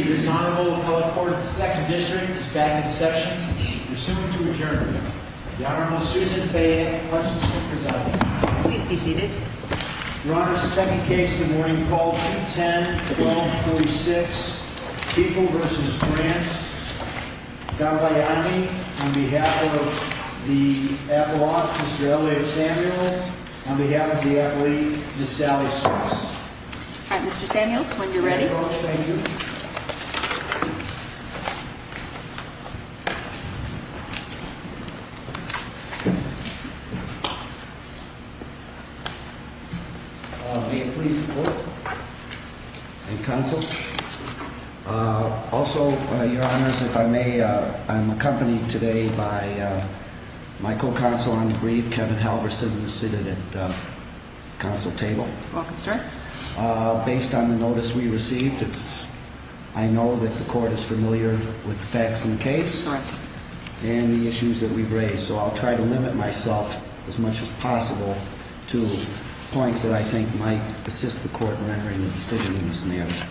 This Honorable Appellate Court of the 2nd District is back in session. We are soon to adjourn. The Honorable Susan Fayette, Pledge of Allegiance, presiding. Please be seated. Your Honor, the second case in the morning, call 210-1236. People v. Grant. Gambaiani, on behalf of the Appellate, Mr. Elliot Samuels. On behalf of the Appellate, Ms. Sally Strauss. Mr. Samuels, when you're ready. Thank you. May it please the Court and Counsel. Also, Your Honors, if I may, I'm accompanied today by my co-counsel on the brief, Kevin Halverson, seated at the Counsel table. Welcome, sir. Based on the notice we received, I know that the Court is familiar with the facts in the case. Correct. And the issues that we've raised, so I'll try to limit myself as much as possible to points that I think might assist the Court in rendering a decision in this matter.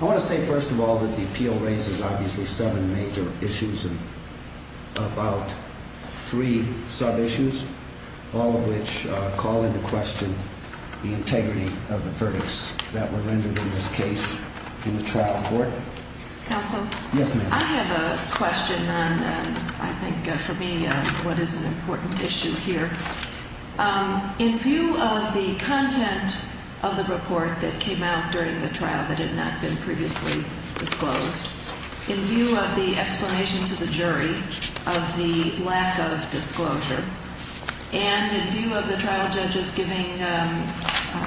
I want to say, first of all, that the appeal raises, obviously, seven major issues and about three sub-issues, all of which call into question the integrity of the verdicts that were rendered in this case in the trial court. Counsel? Yes, ma'am. I have a question on, I think, for me, what is an important issue here. In view of the content of the report that came out during the trial that had not been previously disclosed, in view of the explanation to the jury of the lack of disclosure, and in view of the trial judges giving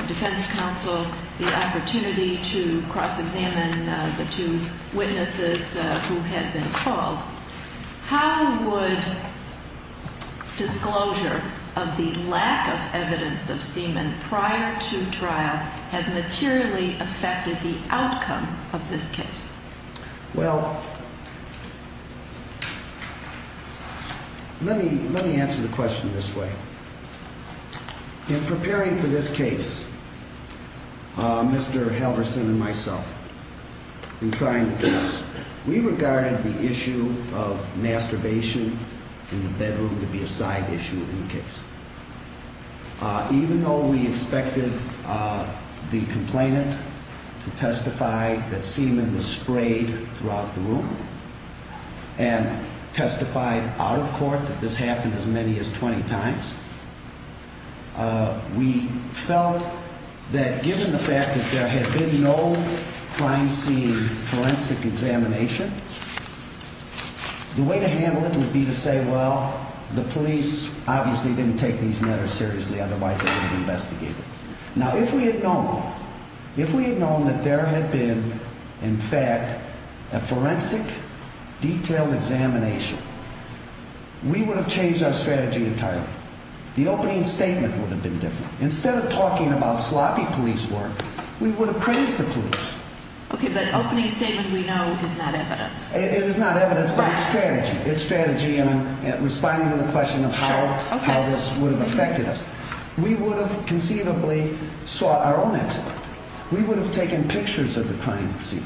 defense counsel the opportunity to cross-examine the two witnesses who had been called, how would disclosure of the lack of evidence of semen prior to trial have materially affected the outcome of this case? Well, let me answer the question this way. In preparing for this case, Mr. Halverson and myself, we regarded the issue of masturbation in the bedroom to be a side issue in the case. Even though we expected the complainant to testify that semen was sprayed throughout the room and testified out of court that this happened as many as 20 times, we felt that given the fact that there had been no crime scene forensic examination, the way to handle it would be to say, well, the police obviously didn't take this case seriously. Now, if we had known that there had been, in fact, a forensic detailed examination, we would have changed our strategy entirely. The opening statement would have been different. Instead of talking about sloppy police work, we would have praised the police. Okay, but opening statement we know is not evidence. It is not evidence, but it's strategy. Responding to the question of how this would have affected us. We would have conceivably saw our own exit. We would have taken pictures of the crime scene.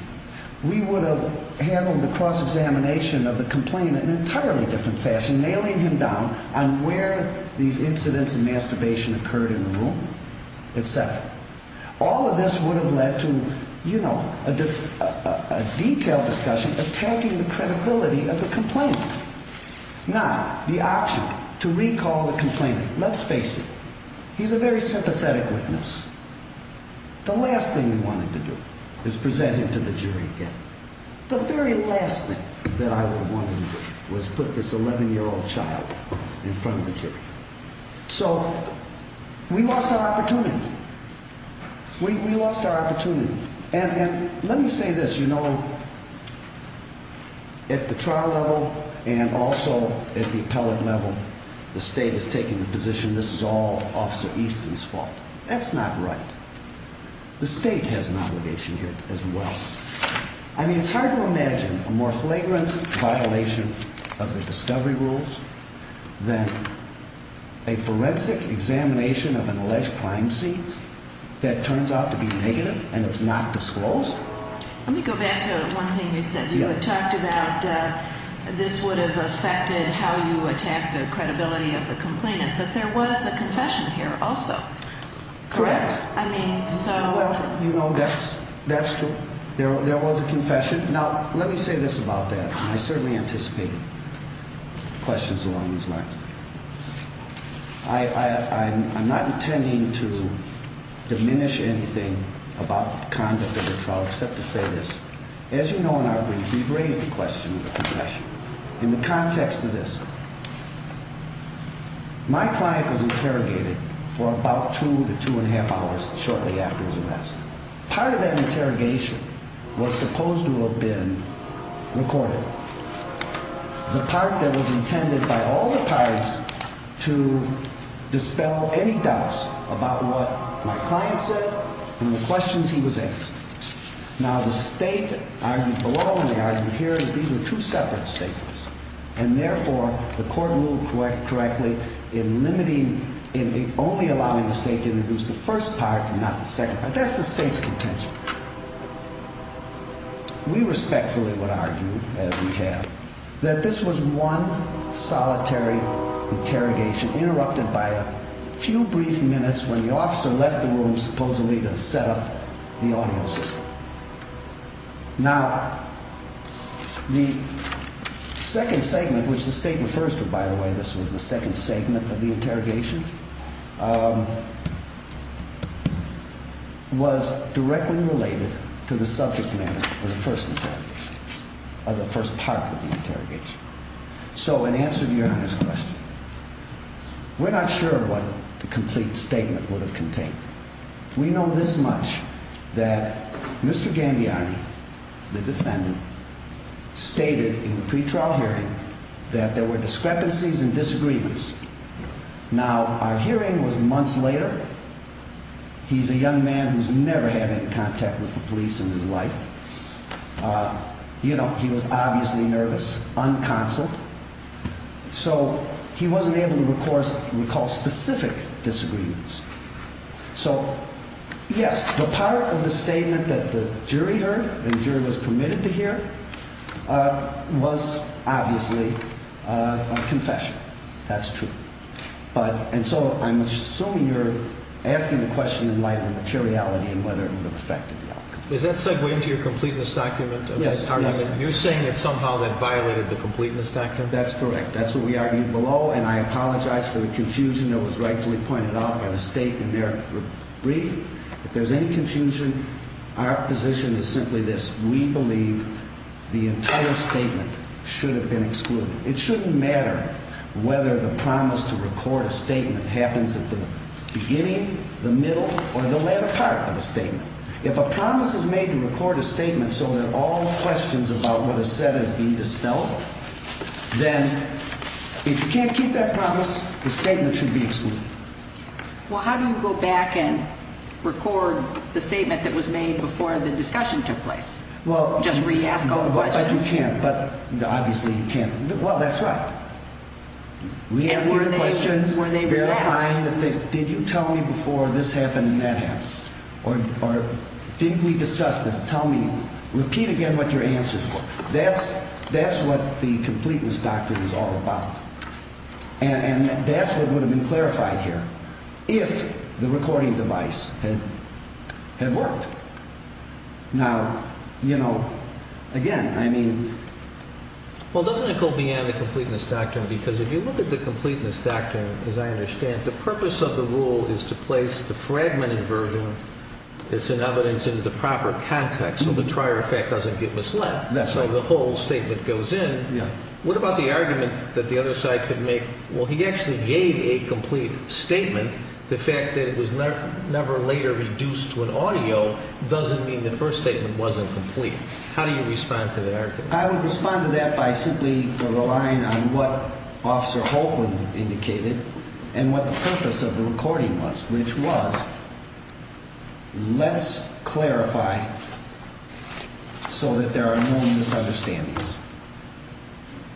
We would have handled the cross-examination of the complainant in an entirely different fashion, nailing him down on where these incidents of masturbation occurred in the room, et cetera. All of this would have led to, you know, a detailed discussion attacking the credibility of the complainant. Now, the option to recall the complainant, let's face it, he's a very sympathetic witness. The last thing we wanted to do is present him to the jury again. The very last thing that I would have wanted to do was put this 11-year-old child in front of the jury. So, we lost our opportunity. We lost our opportunity. And let me say this, you know, at the trial level and also at the appellate level, the state has taken the position this is all Officer Easton's fault. That's not right. The state has an obligation here as well. I mean, it's hard to imagine a more flagrant violation of the discovery rules than a forensic examination of an alleged crime scene that turns out to be negative and it's not disclosed. Let me go back to one thing you said. You had talked about this would have affected how you attack the credibility of the complainant, but there was a confession here also. Correct. I mean, so. Well, you know, that's true. There was a confession. Now, let me say this about that. I certainly anticipated questions along these lines. I'm not intending to diminish anything about the conduct of the trial except to say this. As you know in our brief, we've raised the question of the confession. In the context of this, my client was interrogated for about two to two and a half hours shortly after his arrest. Part of that interrogation was supposed to have been recorded. The part that was intended by all the parties to dispel any doubts about what my client said and the questions he was asked. Now, the state argued below and they argued here that these were two separate statements. And therefore, the court ruled correctly in limiting, in only allowing the state to introduce the first part and not the second part. That's the state's contention. We respectfully would argue, as we have, that this was one solitary interrogation interrupted by a few brief minutes when the officer left the room supposedly to set up the audio system. Now, the second segment, which the state refers to, by the way, this was the second segment of the interrogation, was directly related to the subject matter of the first part of the interrogation. So in answer to Your Honor's question, we're not sure what the complete statement would have contained. We know this much, that Mr. Gambiani, the defendant, stated in the pretrial hearing that there were discrepancies and disagreements. Now, our hearing was months later. He's a young man who's never had any contact with the police in his life. You know, he was obviously nervous, unconscious. So he wasn't able to record what we call specific disagreements. So, yes, the part of the statement that the jury heard and the jury was permitted to hear was obviously a confession. That's true. And so I'm assuming you're asking the question in light of the materiality and whether it would have affected the outcome. Does that segue into your completeness document? Yes. You're saying that somehow that violated the completeness document? That's correct. That's what we argued below, and I apologize for the confusion that was rightfully pointed out by the statement there. Brief, if there's any confusion, our position is simply this. We believe the entire statement should have been excluded. It shouldn't matter whether the promise to record a statement happens at the beginning, the middle, or the latter part of a statement. If a promise is made to record a statement so that all questions about what is said have been dispelled, then if you can't keep that promise, the statement should be excluded. Well, how do you go back and record the statement that was made before the discussion took place? Just re-ask all the questions? You can't, but obviously you can't. Well, that's right. Re-ask all the questions. And were they re-asked? Did you tell me before this happened and that happened? Or did we discuss this? Tell me. Repeat again what your answers were. That's what the completeness doctrine is all about. And that's what would have been clarified here if the recording device had worked. Now, you know, again, I mean… Well, doesn't it go beyond the completeness doctrine? Because if you look at the completeness doctrine, as I understand, the purpose of the rule is to place the fragmented version that's in evidence into the proper context so the prior effect doesn't get misled. That's right. So the whole statement goes in. Yeah. What about the argument that the other side could make? Well, he actually gave a complete statement. The fact that it was never later reduced to an audio doesn't mean the first statement wasn't complete. How do you respond to that argument? I would respond to that by simply relying on what Officer Holtman indicated and what the purpose of the recording was, which was, let's clarify so that there are no misunderstandings.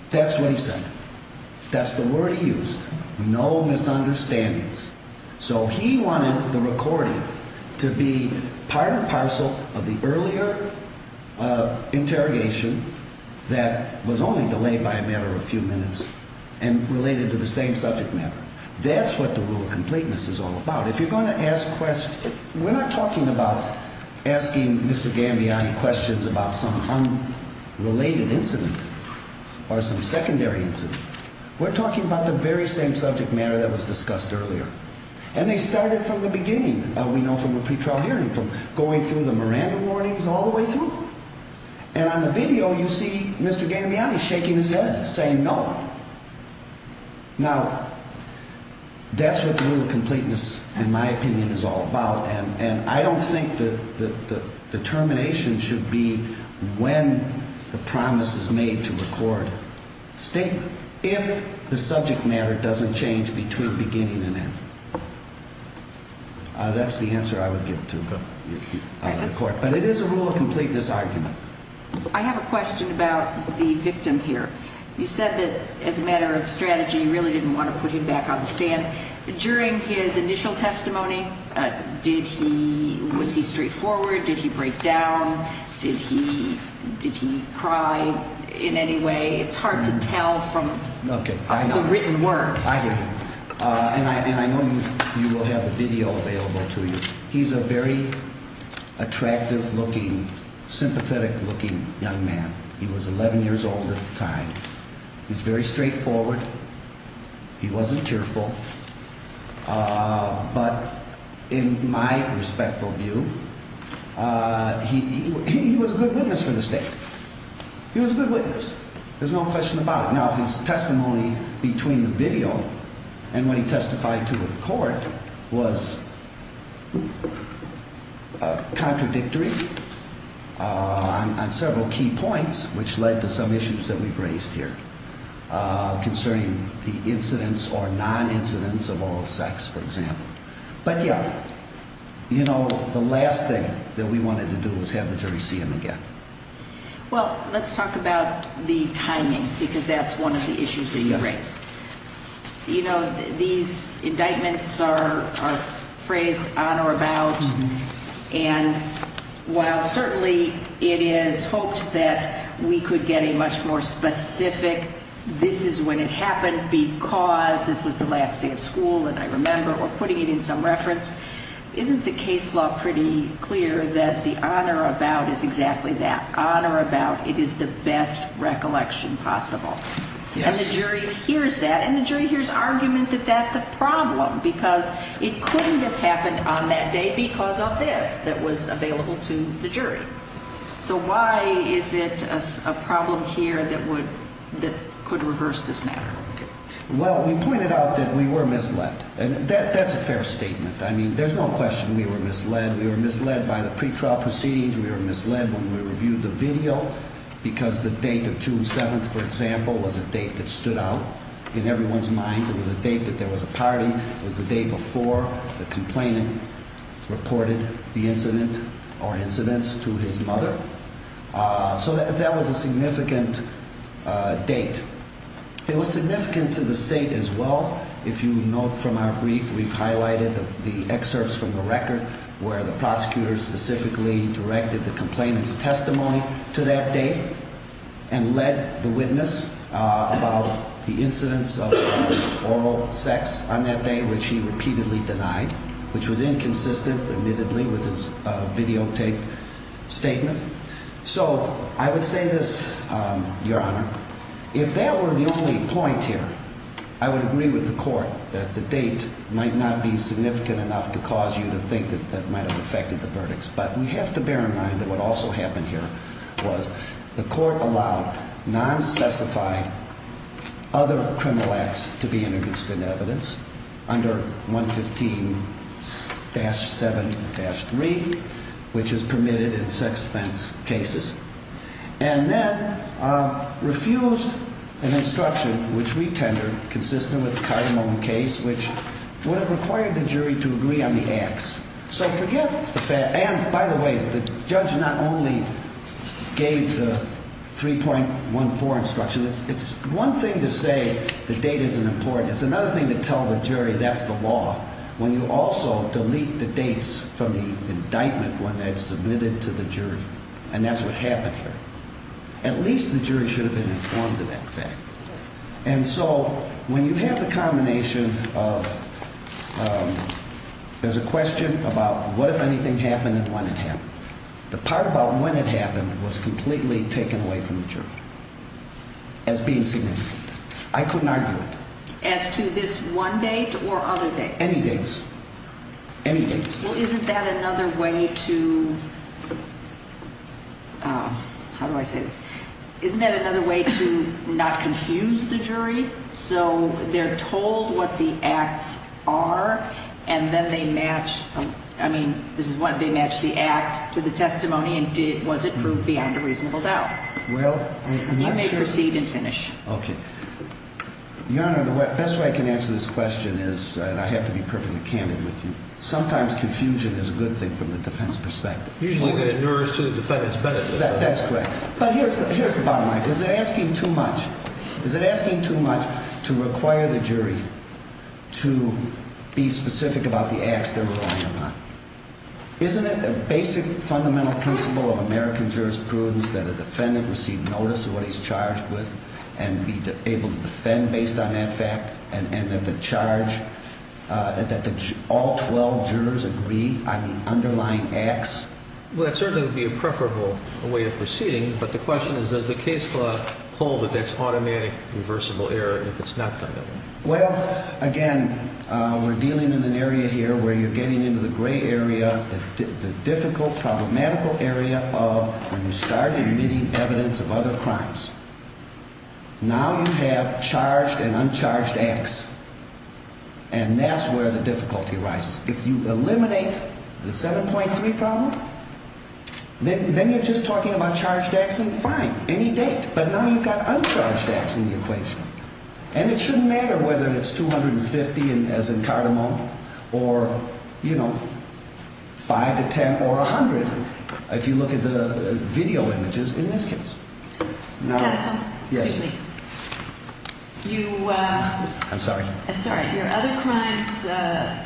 That's what he said. That's the word he used, no misunderstandings. So he wanted the recording to be part or parcel of the earlier interrogation that was only delayed by a matter of a few minutes and related to the same subject matter. That's what the rule of completeness is all about. We're not talking about asking Mr. Gambiani questions about some unrelated incident or some secondary incident. We're talking about the very same subject matter that was discussed earlier. And they started from the beginning, we know from the pretrial hearing, from going through the Miranda warnings all the way through. And on the video, you see Mr. Gambiani shaking his head, saying no. Now, that's what the rule of completeness, in my opinion, is all about. And I don't think the termination should be when the promise is made to record a statement if the subject matter doesn't change between beginning and end. That's the answer I would give to the court. But it is a rule of completeness argument. I have a question about the victim here. You said that as a matter of strategy, you really didn't want to put him back on the stand. During his initial testimony, was he straightforward? Did he break down? Did he cry in any way? It's hard to tell from the written word. I hear you. And I know you will have the video available to you. He's a very attractive-looking, sympathetic-looking young man. He was 11 years old at the time. He was very straightforward. He wasn't tearful. But in my respectful view, he was a good witness for the state. He was a good witness. There's no question about it. Now, his testimony between the video and when he testified to the court was contradictory on several key points, which led to some issues that we've raised here concerning the incidence or non-incidence of oral sex, for example. But, yeah, you know, the last thing that we wanted to do was have the jury see him again. Well, let's talk about the timing because that's one of the issues that you raised. You know, these indictments are phrased on or about. And while certainly it is hoped that we could get a much more specific, this is when it happened because this was the last day of school, and I remember we're putting it in some reference, isn't the case law pretty clear that the on or about is exactly that, on or about? It is the best recollection possible. And the jury hears that, and the jury hears argument that that's a problem because it couldn't have happened on that day because of this that was available to the jury. So why is it a problem here that could reverse this matter? Well, we pointed out that we were misled. That's a fair statement. I mean, there's no question we were misled. We were misled by the pretrial proceedings. We were misled when we reviewed the video because the date of June 7th, for example, was a date that stood out in everyone's minds. It was a date that there was a party. It was the day before the complainant reported the incident or incidence to his mother. So that was a significant date. It was significant to the state as well. If you note from our brief, we've highlighted the excerpts from the record where the prosecutor specifically directed the complainant's testimony to that date and led the witness about the incidence of oral sex on that day, which he repeatedly denied, which was inconsistent, admittedly, with his videotaped statement. So I would say this, Your Honor. If that were the only point here, I would agree with the court that the date might not be significant enough to cause you to think that that might have affected the verdicts. But we have to bear in mind that what also happened here was the court allowed non-specified other criminal acts to be introduced into evidence under 115-7-3, which is permitted in sex offense cases, and then refused an instruction, which we tendered, consistent with the Cardamone case, which would have required the jury to agree on the acts. So forget the fact – and by the way, the judge not only gave the 3.14 instruction. It's one thing to say the date isn't important. It's another thing to tell the jury that's the law when you also delete the dates from the indictment when it's submitted to the jury. And that's what happened here. At least the jury should have been informed of that fact. And so when you have the combination of – there's a question about what if anything happened and when it happened. The part about when it happened was completely taken away from the jury as being significant. I couldn't argue with that. As to this one date or other dates? Any dates. Any dates. Well, isn't that another way to – how do I say this? Isn't that another way to not confuse the jury so they're told what the acts are and then they match – I mean, this is one – they match the act to the testimony and was it proved beyond a reasonable doubt? Well, I'm not sure. You may proceed and finish. Okay. Your Honor, the best way I can answer this question is – and I have to be perfectly candid with you. Sometimes confusion is a good thing from the defense perspective. Usually when it neures to the defendant's benefit. That's correct. But here's the bottom line. Is it asking too much? Is it asking too much to require the jury to be specific about the acts they're relying upon? Isn't it a basic fundamental principle of American jurisprudence that a defendant receive notice of what he's charged with and be able to defend based on that fact and that the charge – that all 12 jurors agree on the underlying acts? Well, that certainly would be a preferable way of proceeding, but the question is does the case law hold that that's automatic reversible error if it's not done that way? Well, again, we're dealing in an area here where you're getting into the gray area, the difficult, problematical area of when you start admitting evidence of other crimes. Now you have charged and uncharged acts, and that's where the difficulty arises. If you eliminate the 7.3 problem, then you're just talking about charged acts and fine, any date. But now you've got uncharged acts in the equation, and it shouldn't matter whether it's 250 as in Cardamom or, you know, 5 to 10 or 100 if you look at the video images in this case. Counsel? Yes. Excuse me. I'm sorry. It's all right. In regard to your other crimes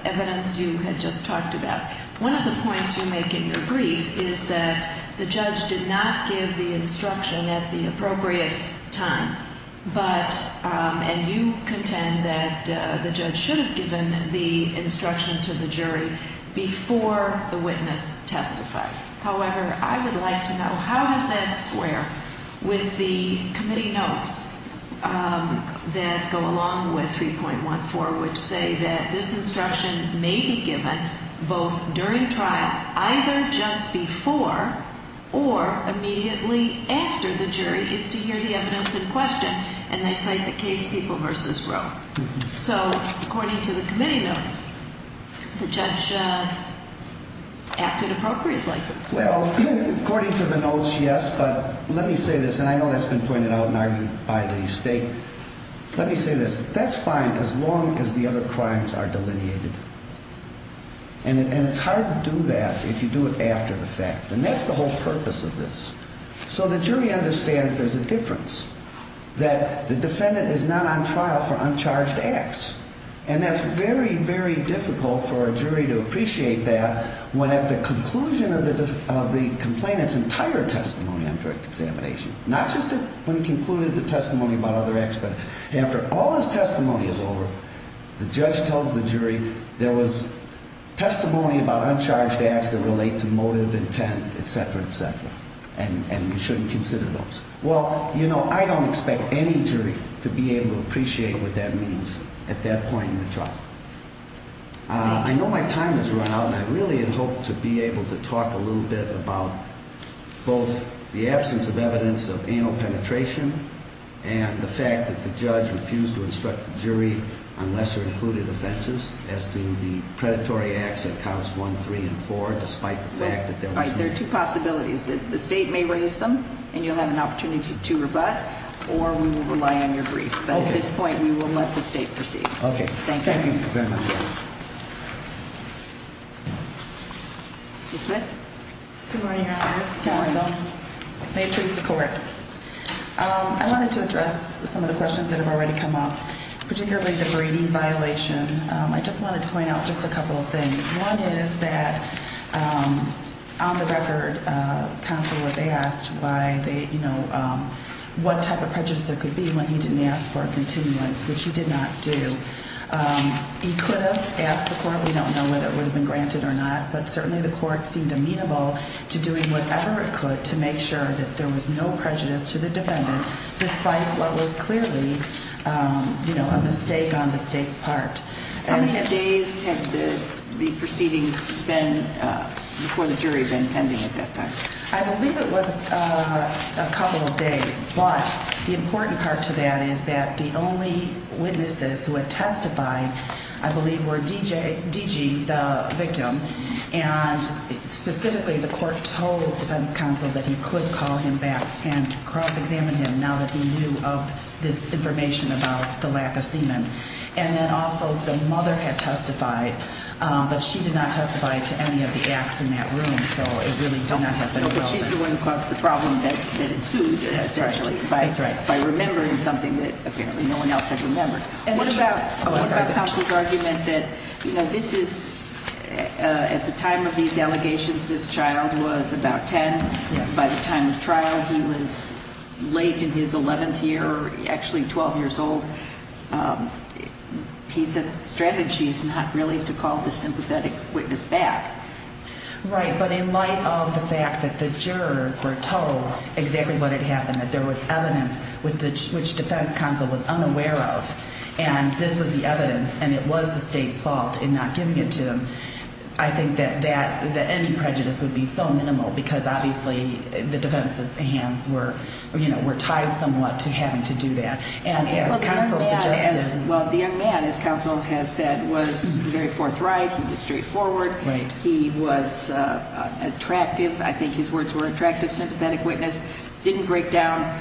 evidence you had just talked about, one of the points you make in your brief is that the judge did not give the instruction at the appropriate time, but – and you contend that the judge should have given the instruction to the jury before the witness testified. However, I would like to know how does that square with the committee notes that go along with 3.14 which say that this instruction may be given both during trial, either just before or immediately after the jury is to hear the evidence in question, and they cite the case People v. Roe. So according to the committee notes, the judge acted appropriately. Well, according to the notes, yes, but let me say this, and I know that's been pointed out and argued by the state. Let me say this. That's fine as long as the other crimes are delineated, and it's hard to do that if you do it after the fact, and that's the whole purpose of this. So the jury understands there's a difference, that the defendant is not on trial for uncharged acts, and that's very, very difficult for a jury to appreciate that when at the conclusion of the complainant's entire testimony on direct examination, not just when he concluded the testimony about other acts, but after all his testimony is over, the judge tells the jury there was testimony about uncharged acts that relate to motive, intent, etc., etc., and you shouldn't consider those. Well, you know, I don't expect any jury to be able to appreciate what that means at that point in the trial. I know my time has run out, and I really had hoped to be able to talk a little bit about both the absence of evidence of anal penetration and the fact that the judge refused to instruct the jury on lesser-included offenses as to the predatory acts at counts 1, 3, and 4, despite the fact that there was no evidence. There are two possibilities. The State may raise them, and you'll have an opportunity to rebut, or we will rely on your brief. But at this point, we will let the State proceed. Okay. Thank you. Thank you very much. Ms. Smith? Good morning, Your Honors. Good morning. May it please the Court. I wanted to address some of the questions that have already come up, particularly the breeding violation. I just wanted to point out just a couple of things. One is that, on the record, counsel was asked what type of prejudice there could be when he didn't ask for a continuance, which he did not do. He could have asked the Court. We don't know whether it would have been granted or not, but certainly the Court seemed amenable to doing whatever it could to make sure that there was no prejudice to the defendant, despite what was clearly a mistake on the State's part. How many days had the proceedings been, before the jury, been pending at that time? I believe it was a couple of days. But the important part to that is that the only witnesses who had testified, I believe, were D.G., the victim. And specifically, the Court told defense counsel that he could call him back and cross-examine him, now that he knew of this information about the lack of semen. And then, also, the mother had testified, but she did not testify to any of the acts in that room, so it really did not have any relevance. But she's the one who caused the problem that ensued, essentially. That's right. By remembering something that, apparently, no one else had remembered. And what about counsel's argument that this is, at the time of these allegations, this child was about 10. Yes. By the time of trial, he was late in his 11th year, actually 12 years old. He said the strategy is not really to call the sympathetic witness back. Right. But in light of the fact that the jurors were told exactly what had happened, that there was evidence which defense counsel was unaware of, and this was the evidence, and it was the State's fault in not giving it to them, I think that any prejudice would be so minimal because, obviously, the defense's hands were tied somewhat to having to do that. And as counsel suggested – Well, the young man, as counsel has said, was very forthright. He was straightforward. Right. He was attractive. I think his words were attractive. Sympathetic witness didn't break down.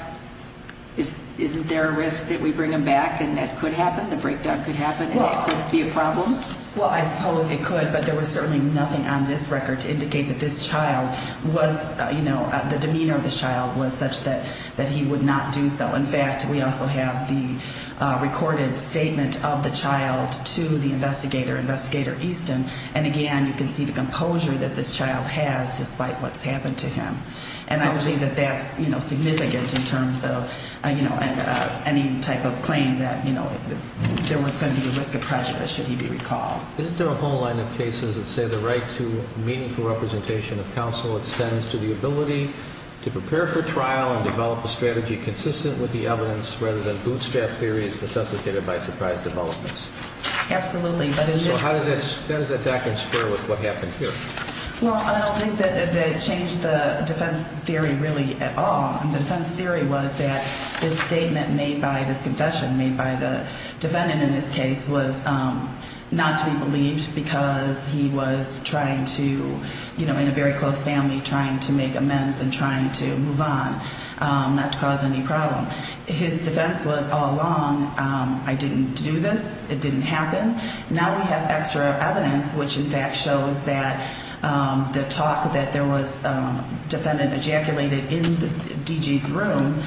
Isn't there a risk that we bring him back? And that could happen. The breakdown could happen, and it could be a problem. Well, I suppose it could, but there was certainly nothing on this record to indicate that this child was, you know, the demeanor of this child was such that he would not do so. In fact, we also have the recorded statement of the child to the investigator, Investigator Easton, and, again, you can see the composure that this child has despite what's happened to him. And I believe that that's, you know, significant in terms of, you know, any type of claim that, you know, there was going to be a risk of prejudice should he be recalled. Isn't there a whole line of cases that say the right to meaningful representation of counsel extends to the ability to prepare for trial and develop a strategy consistent with the evidence rather than bootstrap theories necessitated by surprise developments? Absolutely. So how does that doctrine square with what happened here? Well, I don't think that it changed the defense theory really at all. The defense theory was that this statement made by this confession, made by the defendant in this case, was not to be believed because he was trying to, you know, in a very close family, trying to make amends and trying to move on, not to cause any problem. His defense was all along, I didn't do this, it didn't happen. Now we have extra evidence which, in fact, shows that the talk that there was, defendant ejaculated in D.G.'s room,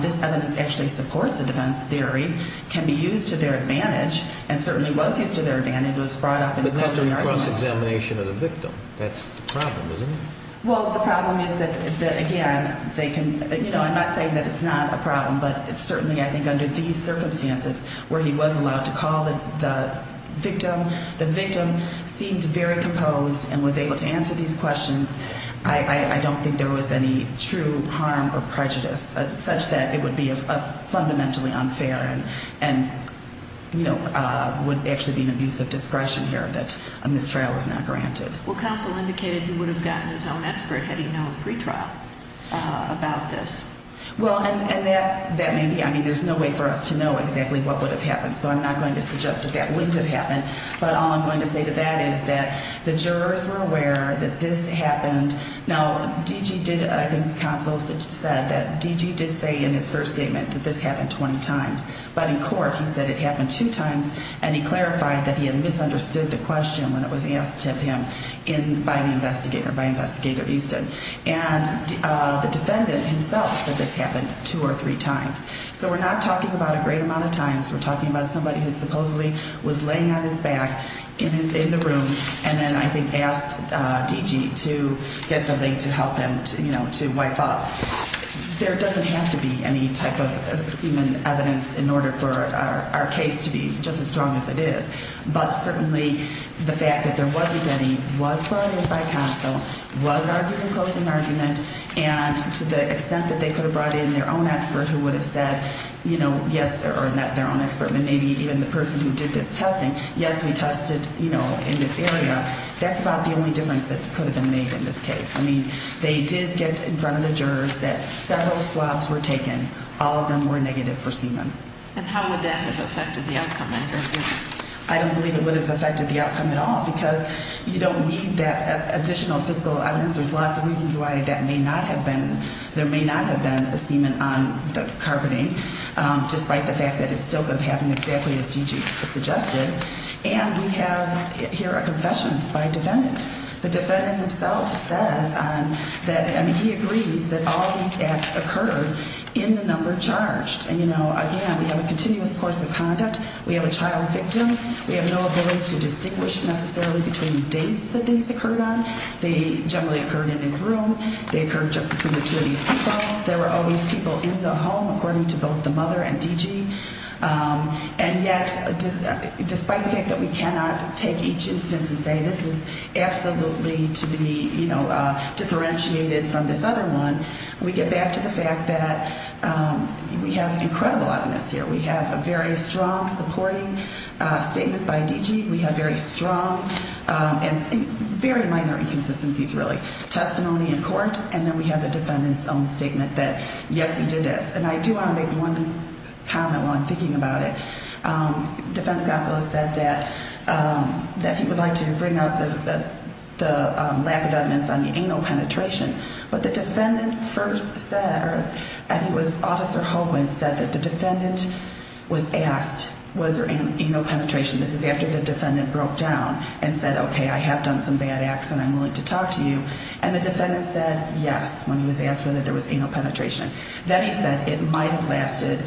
this evidence actually supports the defense theory, can be used to their advantage, and certainly was used to their advantage, was brought up in the closing argument. But that's a recourse examination of the victim. That's the problem, isn't it? Well, the problem is that, again, they can, you know, I'm not saying that it's not a problem, but certainly I think under these circumstances where he was allowed to call the victim, the victim seemed very composed and was able to answer these questions. I don't think there was any true harm or prejudice such that it would be fundamentally unfair and, you know, would actually be an abuse of discretion here that a mistrial was not granted. Well, counsel indicated he would have gotten his own expert had he known pre-trial about this. Well, and that may be, I mean, there's no way for us to know exactly what would have happened, so I'm not going to suggest that that wouldn't have happened. But all I'm going to say to that is that the jurors were aware that this happened. Now, D.G. did, I think counsel said that D.G. did say in his first statement that this happened 20 times. But in court he said it happened two times, and he clarified that he had misunderstood the question when it was asked of him by the investigator, by Investigator Easton. And the defendant himself said this happened two or three times. So we're not talking about a great amount of times. We're talking about somebody who supposedly was laying on his back in the room and then I think asked D.G. to get something to help him, you know, to wipe up. There doesn't have to be any type of semen evidence in order for our case to be just as strong as it is. But certainly the fact that there wasn't any, was brought in by counsel, was argued in closing argument, and to the extent that they could have brought in their own expert who would have said, you know, yes, or not their own expert but maybe even the person who did this testing, yes, we tested, you know, in this area, that's about the only difference that could have been made in this case. I mean, they did get in front of the jurors that several swabs were taken. All of them were negative for semen. And how would that have affected the outcome? I don't believe it would have affected the outcome at all because you don't need that additional fiscal evidence. There's lots of reasons why that may not have been, there may not have been a semen on the carpeting, despite the fact that it's still going to happen exactly as D.G. suggested. And we have here a confession by a defendant. The defendant himself says that, I mean, he agrees that all these acts occurred in the number charged. And, you know, again, we have a continuous course of conduct. We have a child victim. We have no ability to distinguish necessarily between dates that these occurred on. They generally occurred in his room. They occurred just between the two of these people. There were always people in the home according to both the mother and D.G. And yet despite the fact that we cannot take each instance and say this is absolutely to be, you know, We have incredible evidence here. We have a very strong supporting statement by D.G. We have very strong and very minor inconsistencies really. Testimony in court, and then we have the defendant's own statement that, yes, he did this. And I do want to make one comment while I'm thinking about it. Defense counsel has said that he would like to bring up the lack of evidence on the anal penetration. But the defendant first said, I think it was Officer Holguin said that the defendant was asked was there anal penetration. This is after the defendant broke down and said, okay, I have done some bad acts and I'm willing to talk to you. And the defendant said yes when he was asked whether there was anal penetration. Then he said it might have lasted,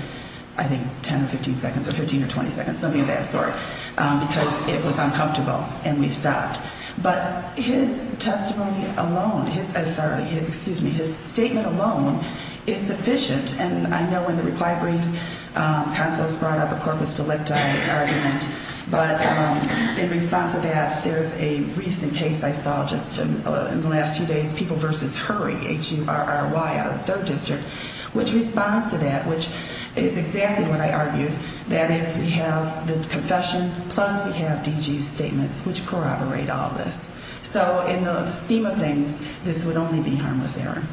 I think, 10 or 15 seconds or 15 or 20 seconds, something of that sort, because it was uncomfortable and we stopped. But his testimony alone, sorry, excuse me, his statement alone is sufficient. And I know in the reply brief, counsel has brought up a corpus delicti argument. But in response to that, there is a recent case I saw just in the last few days, People v. Hurry, H-U-R-R-Y out of the 3rd District, which responds to that, which is exactly what I argued. That is, we have the confession plus we have DG's statements, which corroborate all this. So in the scheme of things, this would only be harmless error.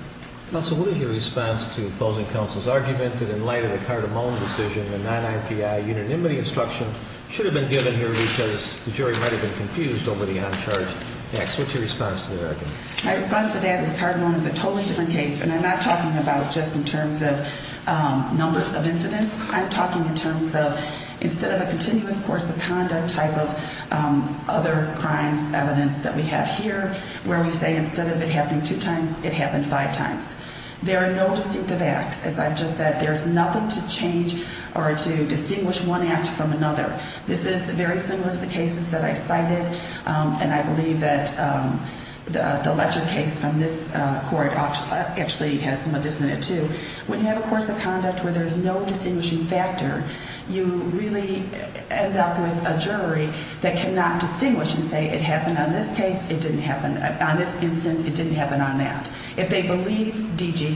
Counsel, what is your response to opposing counsel's argument that in light of the Cardamone decision, the non-IPI unanimity instruction should have been given here because the jury might have been confused over the uncharged acts? What's your response to that argument? My response to that is Cardamone is a totally different case, and I'm not talking about just in terms of numbers of incidents. I'm talking in terms of instead of a continuous course of conduct type of other crimes evidence that we have here, where we say instead of it happening two times, it happened five times. There are no distinctive acts. As I've just said, there's nothing to change or to distinguish one act from another. This is very similar to the cases that I cited, and I believe that the Ledger case from this court actually has some of this in it, too. When you have a course of conduct where there's no distinguishing factor, you really end up with a jury that cannot distinguish and say it happened on this case, it didn't happen on this instance, it didn't happen on that. If they believe DG,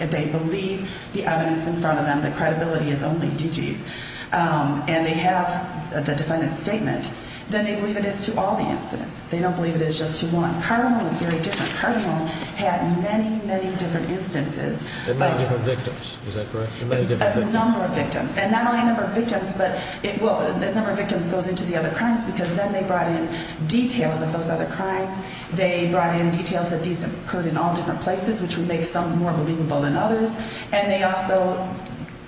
if they believe the evidence in front of them, the credibility is only DG's. And they have the defendant's statement, then they believe it is to all the incidents. They don't believe it is just to one. Cardamone was very different. Cardamone had many, many different instances. And many different victims. Is that correct? A number of victims. And not only a number of victims, but the number of victims goes into the other crimes because then they brought in details of those other crimes. They brought in details that these occurred in all different places, which would make some more believable than others. And they also,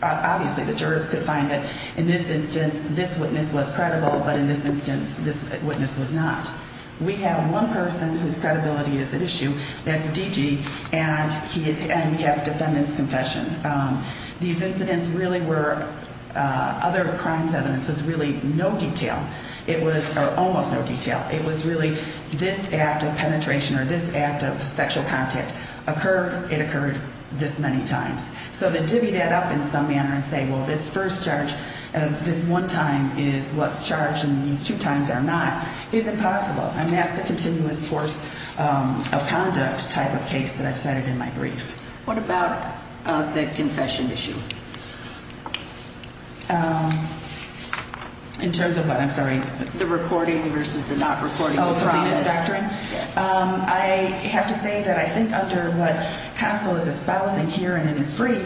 obviously the jurors could find that in this instance, this witness was credible, but in this instance, this witness was not. We have one person whose credibility is at issue, that's DG, and we have a defendant's confession. These incidents really were, other crimes' evidence was really no detail. It was, or almost no detail. It was really this act of penetration or this act of sexual contact occurred, it occurred this many times. So to divvy that up in some manner and say, well, this first charge, this one time is what's charged and these two times are not, is impossible. And that's the continuous course of conduct type of case that I've cited in my brief. What about the confession issue? In terms of what, I'm sorry? The recording versus the not recording the promise. Oh, the promise doctrine? Yes. I have to say that I think under what counsel is espousing here and in his brief,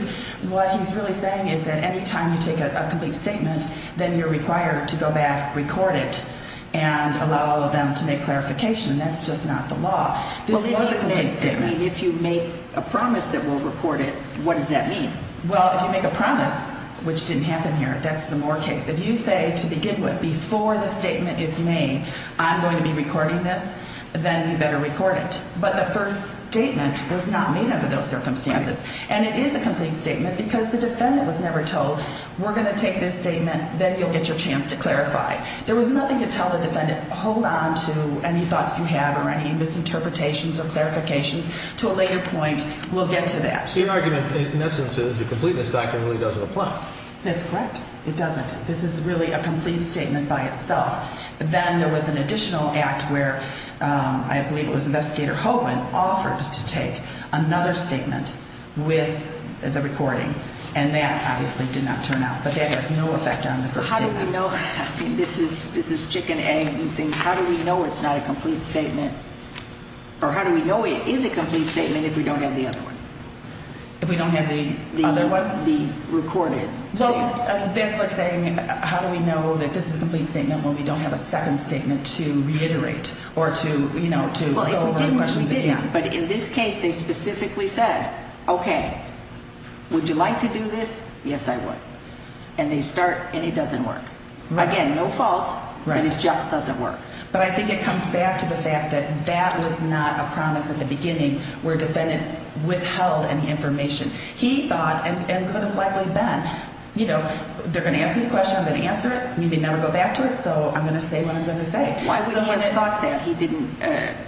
what he's really saying is that any time you take a complete statement, then you're required to go back, record it, and allow them to make clarification. That's just not the law. Well, what does a complete statement mean? If you make a promise that we'll record it, what does that mean? Well, if you make a promise, which didn't happen here, that's the Moore case. If you say to begin with, before the statement is made, I'm going to be recording this, then you better record it. But the first statement was not made under those circumstances. And it is a complete statement because the defendant was never told, we're going to take this statement, then you'll get your chance to clarify. There was nothing to tell the defendant, hold on to any thoughts you have or any misinterpretations or clarifications. To a later point, we'll get to that. Your argument, in essence, is the completeness document really doesn't apply. That's correct. It doesn't. This is really a complete statement by itself. Then there was an additional act where I believe it was Investigator Hogan offered to take another statement with the recording. And that obviously did not turn out. But that has no effect on the first statement. How do we know? I mean, this is chicken, egg, and things. How do we know it's not a complete statement? Or how do we know it is a complete statement if we don't have the other one? If we don't have the other one? The recorded statement. Well, that's like saying how do we know that this is a complete statement when we don't have a second statement to reiterate or to, you know, to go over questions again. Well, if we didn't, we did not. But in this case, they specifically said, okay, would you like to do this? Yes, I would. And they start, and it doesn't work. Again, no fault, but it just doesn't work. But I think it comes back to the fact that that was not a promise at the beginning where a defendant withheld any information. He thought, and could have likely been, you know, they're going to ask me a question, I'm going to answer it. We may never go back to it, so I'm going to say what I'm going to say. Why would he have thought that? He didn't.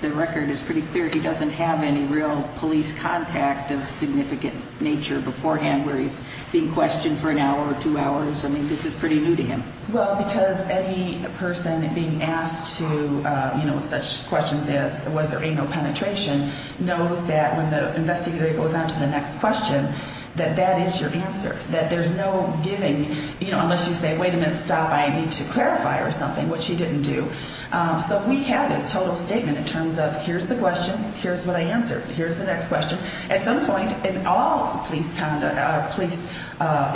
The record is pretty clear. He doesn't have any real police contact of significant nature beforehand where he's being questioned for an hour or two hours. I mean, this is pretty new to him. Well, because any person being asked to, you know, such questions as was there anal penetration knows that when the investigator goes on to the next question, that that is your answer, that there's no giving, you know, unless you say, wait a minute, stop, I need to clarify or something, which he didn't do. So we have this total statement in terms of here's the question, here's what I answered, here's the next question. At some point, in all police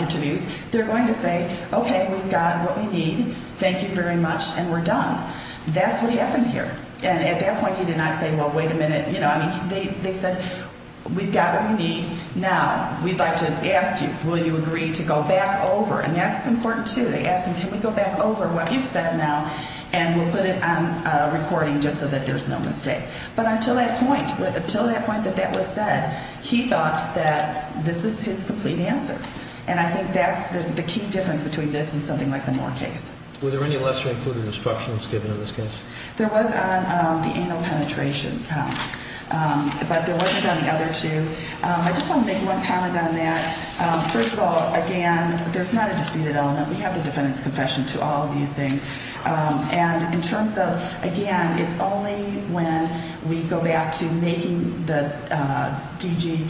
interviews, they're going to say, okay, we've got what we need, thank you very much, and we're done. That's what happened here. And at that point he did not say, well, wait a minute, you know, I mean, they said, we've got what we need, now we'd like to ask you, will you agree to go back over? And that's important, too. They ask him, can we go back over what you've said now and we'll put it on recording just so that there's no mistake. But until that point, until that point that that was said, he thought that this is his complete answer. And I think that's the key difference between this and something like the Moore case. Were there any lesser included instructions given in this case? There was on the anal penetration, but there wasn't on the other two. I just want to make one comment on that. First of all, again, there's not a disputed element. We have the defendant's confession to all of these things. And in terms of, again, it's only when we go back to making the DG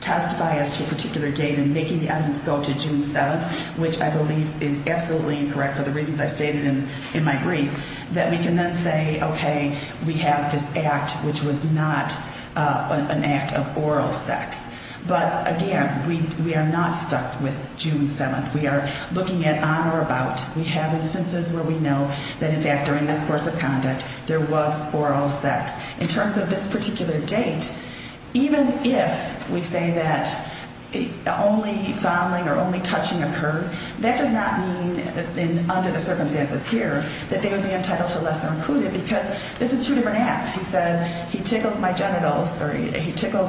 testify as to a particular date and making the evidence go to June 7th, which I believe is absolutely incorrect for the reasons I stated in my brief, that we can then say, okay, we have this act which was not an act of oral sex. But, again, we are not stuck with June 7th. We are looking at on or about. We have instances where we know that, in fact, during this course of conduct, there was oral sex. In terms of this particular date, even if we say that only fondling or only touching occurred, that does not mean under the circumstances here that they would be entitled to lesser included because this is two different acts. He said he tickled my genitals or he tickled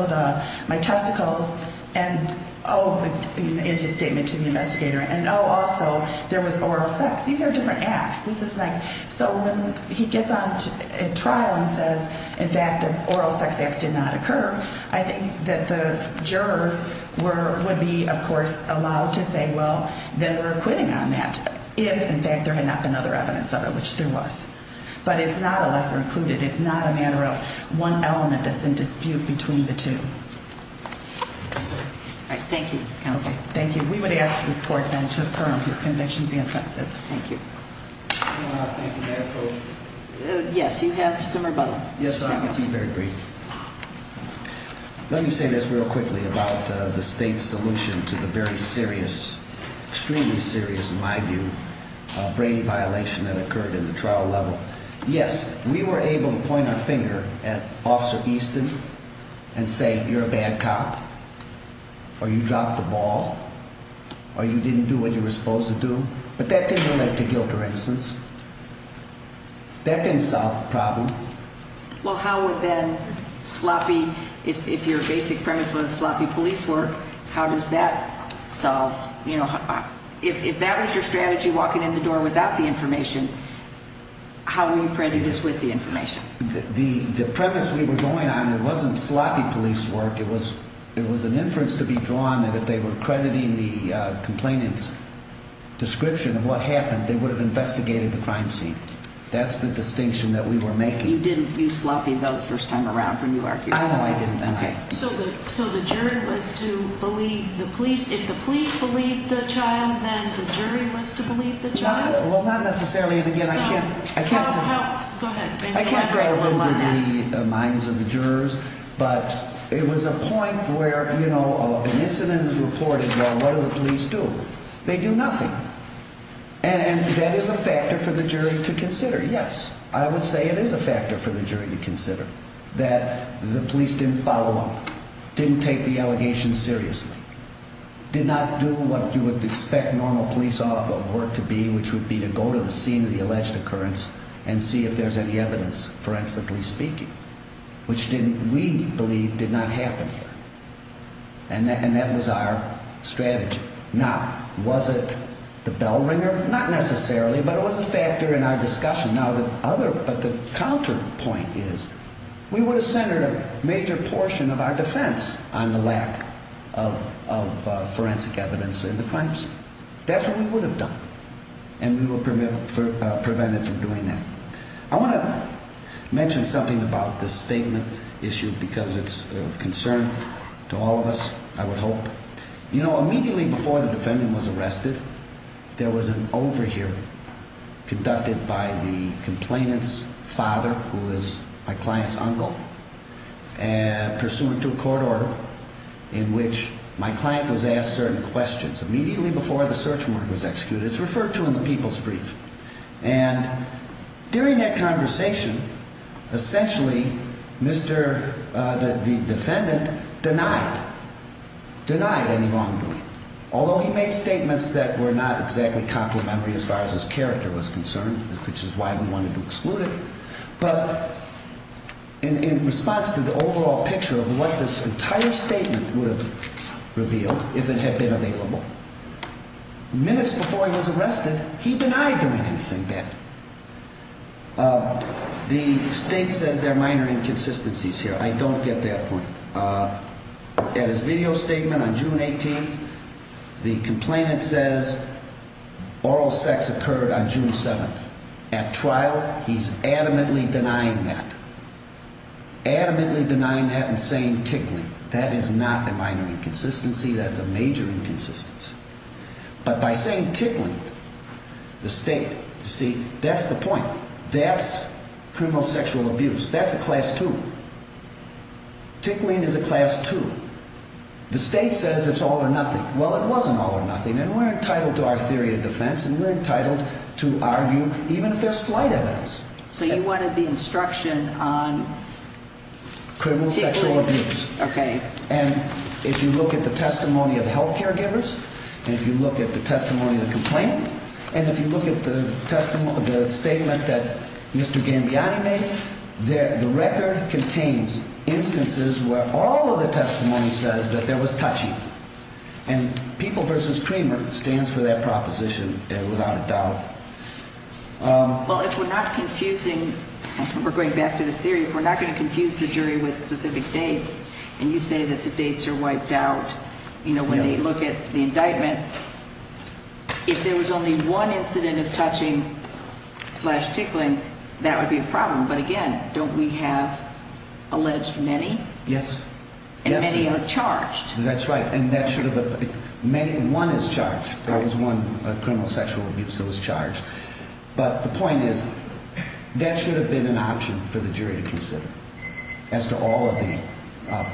my testicles and, oh, in his statement to the investigator, and, oh, also, there was oral sex. These are different acts. This is like so when he gets on trial and says, in fact, that oral sex acts did not occur, I think that the jurors would be, of course, allowed to say, well, then we're acquitting on that if, in fact, there had not been other evidence of it, which there was. But it's not a lesser included. It's not a matter of one element that's in dispute between the two. All right. Thank you, Counsel. Thank you. We would ask this Court, then, to affirm his convictions and offenses. Thank you. Thank you, Madam Judge. Yes, you have some rebuttal. Yes, I'm going to be very brief. Let me say this real quickly about the state's solution to the very serious, extremely serious, in my view, brain violation that occurred in the trial level. Yes, we were able to point our finger at Officer Easton and say, you're a bad cop, or you dropped the ball, or you didn't do what you were supposed to do. But that didn't lead to guilt or innocence. That didn't solve the problem. Well, how would then sloppy, if your basic premise was sloppy police work, how does that solve, you know, if that was your strategy, walking in the door without the information, how were you predicting this with the information? The premise we were going on, it wasn't sloppy police work. It was an inference to be drawn that if they were crediting the complainant's description of what happened, they would have investigated the crime scene. That's the distinction that we were making. You didn't do sloppy, though, the first time around when you argued? I know I didn't then. Okay. So the jury was to believe the police? If the police believed the child, then the jury was to believe the child? Well, not necessarily. Go ahead. I can't go over the minds of the jurors, but it was a point where, you know, an incident is reported, what do the police do? They do nothing. And that is a factor for the jury to consider, yes. I would say it is a factor for the jury to consider, that the police didn't follow up, didn't take the allegation seriously, did not do what you would expect normal police work to be, which would be to go to the scene of the alleged occurrence and see if there's any evidence, forensically speaking, which we believe did not happen here. And that was our strategy. Now, was it the bell ringer? Not necessarily, but it was a factor in our discussion. Now, the counterpoint is we would have centered a major portion of our defense on the lack of forensic evidence in the crime scene. That's what we would have done, and we would have prevented from doing that. I want to mention something about this statement issue because it's of concern to all of us, I would hope. You know, immediately before the defendant was arrested, there was an overhear conducted by the complainant's father, who was my client's uncle, pursuant to a court order in which my client was asked certain questions. Immediately before the search warrant was executed, it's referred to in the people's brief. And during that conversation, essentially, the defendant denied, denied any wrongdoing, although he made statements that were not exactly complementary as far as his character was concerned, which is why we wanted to exclude it. But in response to the overall picture of what this entire statement would have revealed if it had been available, minutes before he was arrested, he denied doing anything bad. The state says there are minor inconsistencies here. I don't get that point. In his video statement on June 18th, the complainant says oral sex occurred on June 7th. At trial, he's adamantly denying that. Adamantly denying that and saying tickling. That is not a minor inconsistency. That's a major inconsistency. But by saying tickling, the state, you see, that's the point. That's criminal sexual abuse. That's a class two. Tickling is a class two. The state says it's all or nothing. Well, it wasn't all or nothing, and we're entitled to our theory of defense, and we're entitled to argue even if there's slight evidence. So you wanted the instruction on tickling? Criminal sexual abuse. Okay. And if you look at the testimony of the health care givers, and if you look at the testimony of the complainant, and if you look at the statement that Mr. Gambiani made, the record contains instances where all of the testimony says that there was touching. And People v. Creamer stands for that proposition without a doubt. Well, if we're not confusing, we're going back to this theory, if we're not going to confuse the jury with specific dates, and you say that the dates are wiped out, you know, when they look at the indictment, if there was only one incident of touching slash tickling, that would be a problem. But, again, don't we have alleged many? Yes. And many are charged. That's right. And that should have been one is charged. That was one criminal sexual abuse that was charged. But the point is, that should have been an option for the jury to consider as to all of the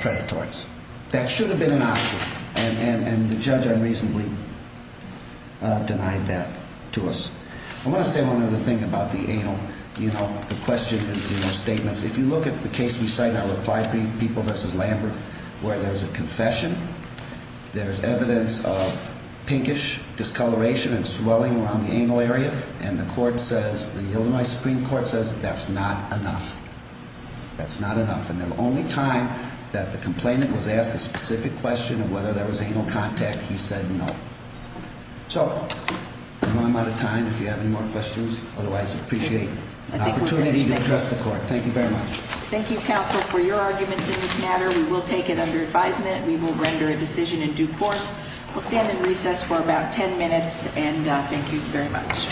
predatories. That should have been an option, and the judge unreasonably denied that to us. I want to say one other thing about the anal, you know, the questions and statements. If you look at the case we cited, our reply to People v. Lambert, where there's a confession, there's evidence of pinkish discoloration and swelling around the anal area. And the court says, the Illinois Supreme Court says that's not enough. That's not enough. And the only time that the complainant was asked a specific question of whether there was anal contact, he said no. So, I'm out of time. If you have any more questions, otherwise, appreciate the opportunity to address the court. Thank you very much. Thank you, counsel, for your arguments in this matter. We will take it under advisement. We will render a decision in due course. We'll stand in recess for about ten minutes, and thank you very much.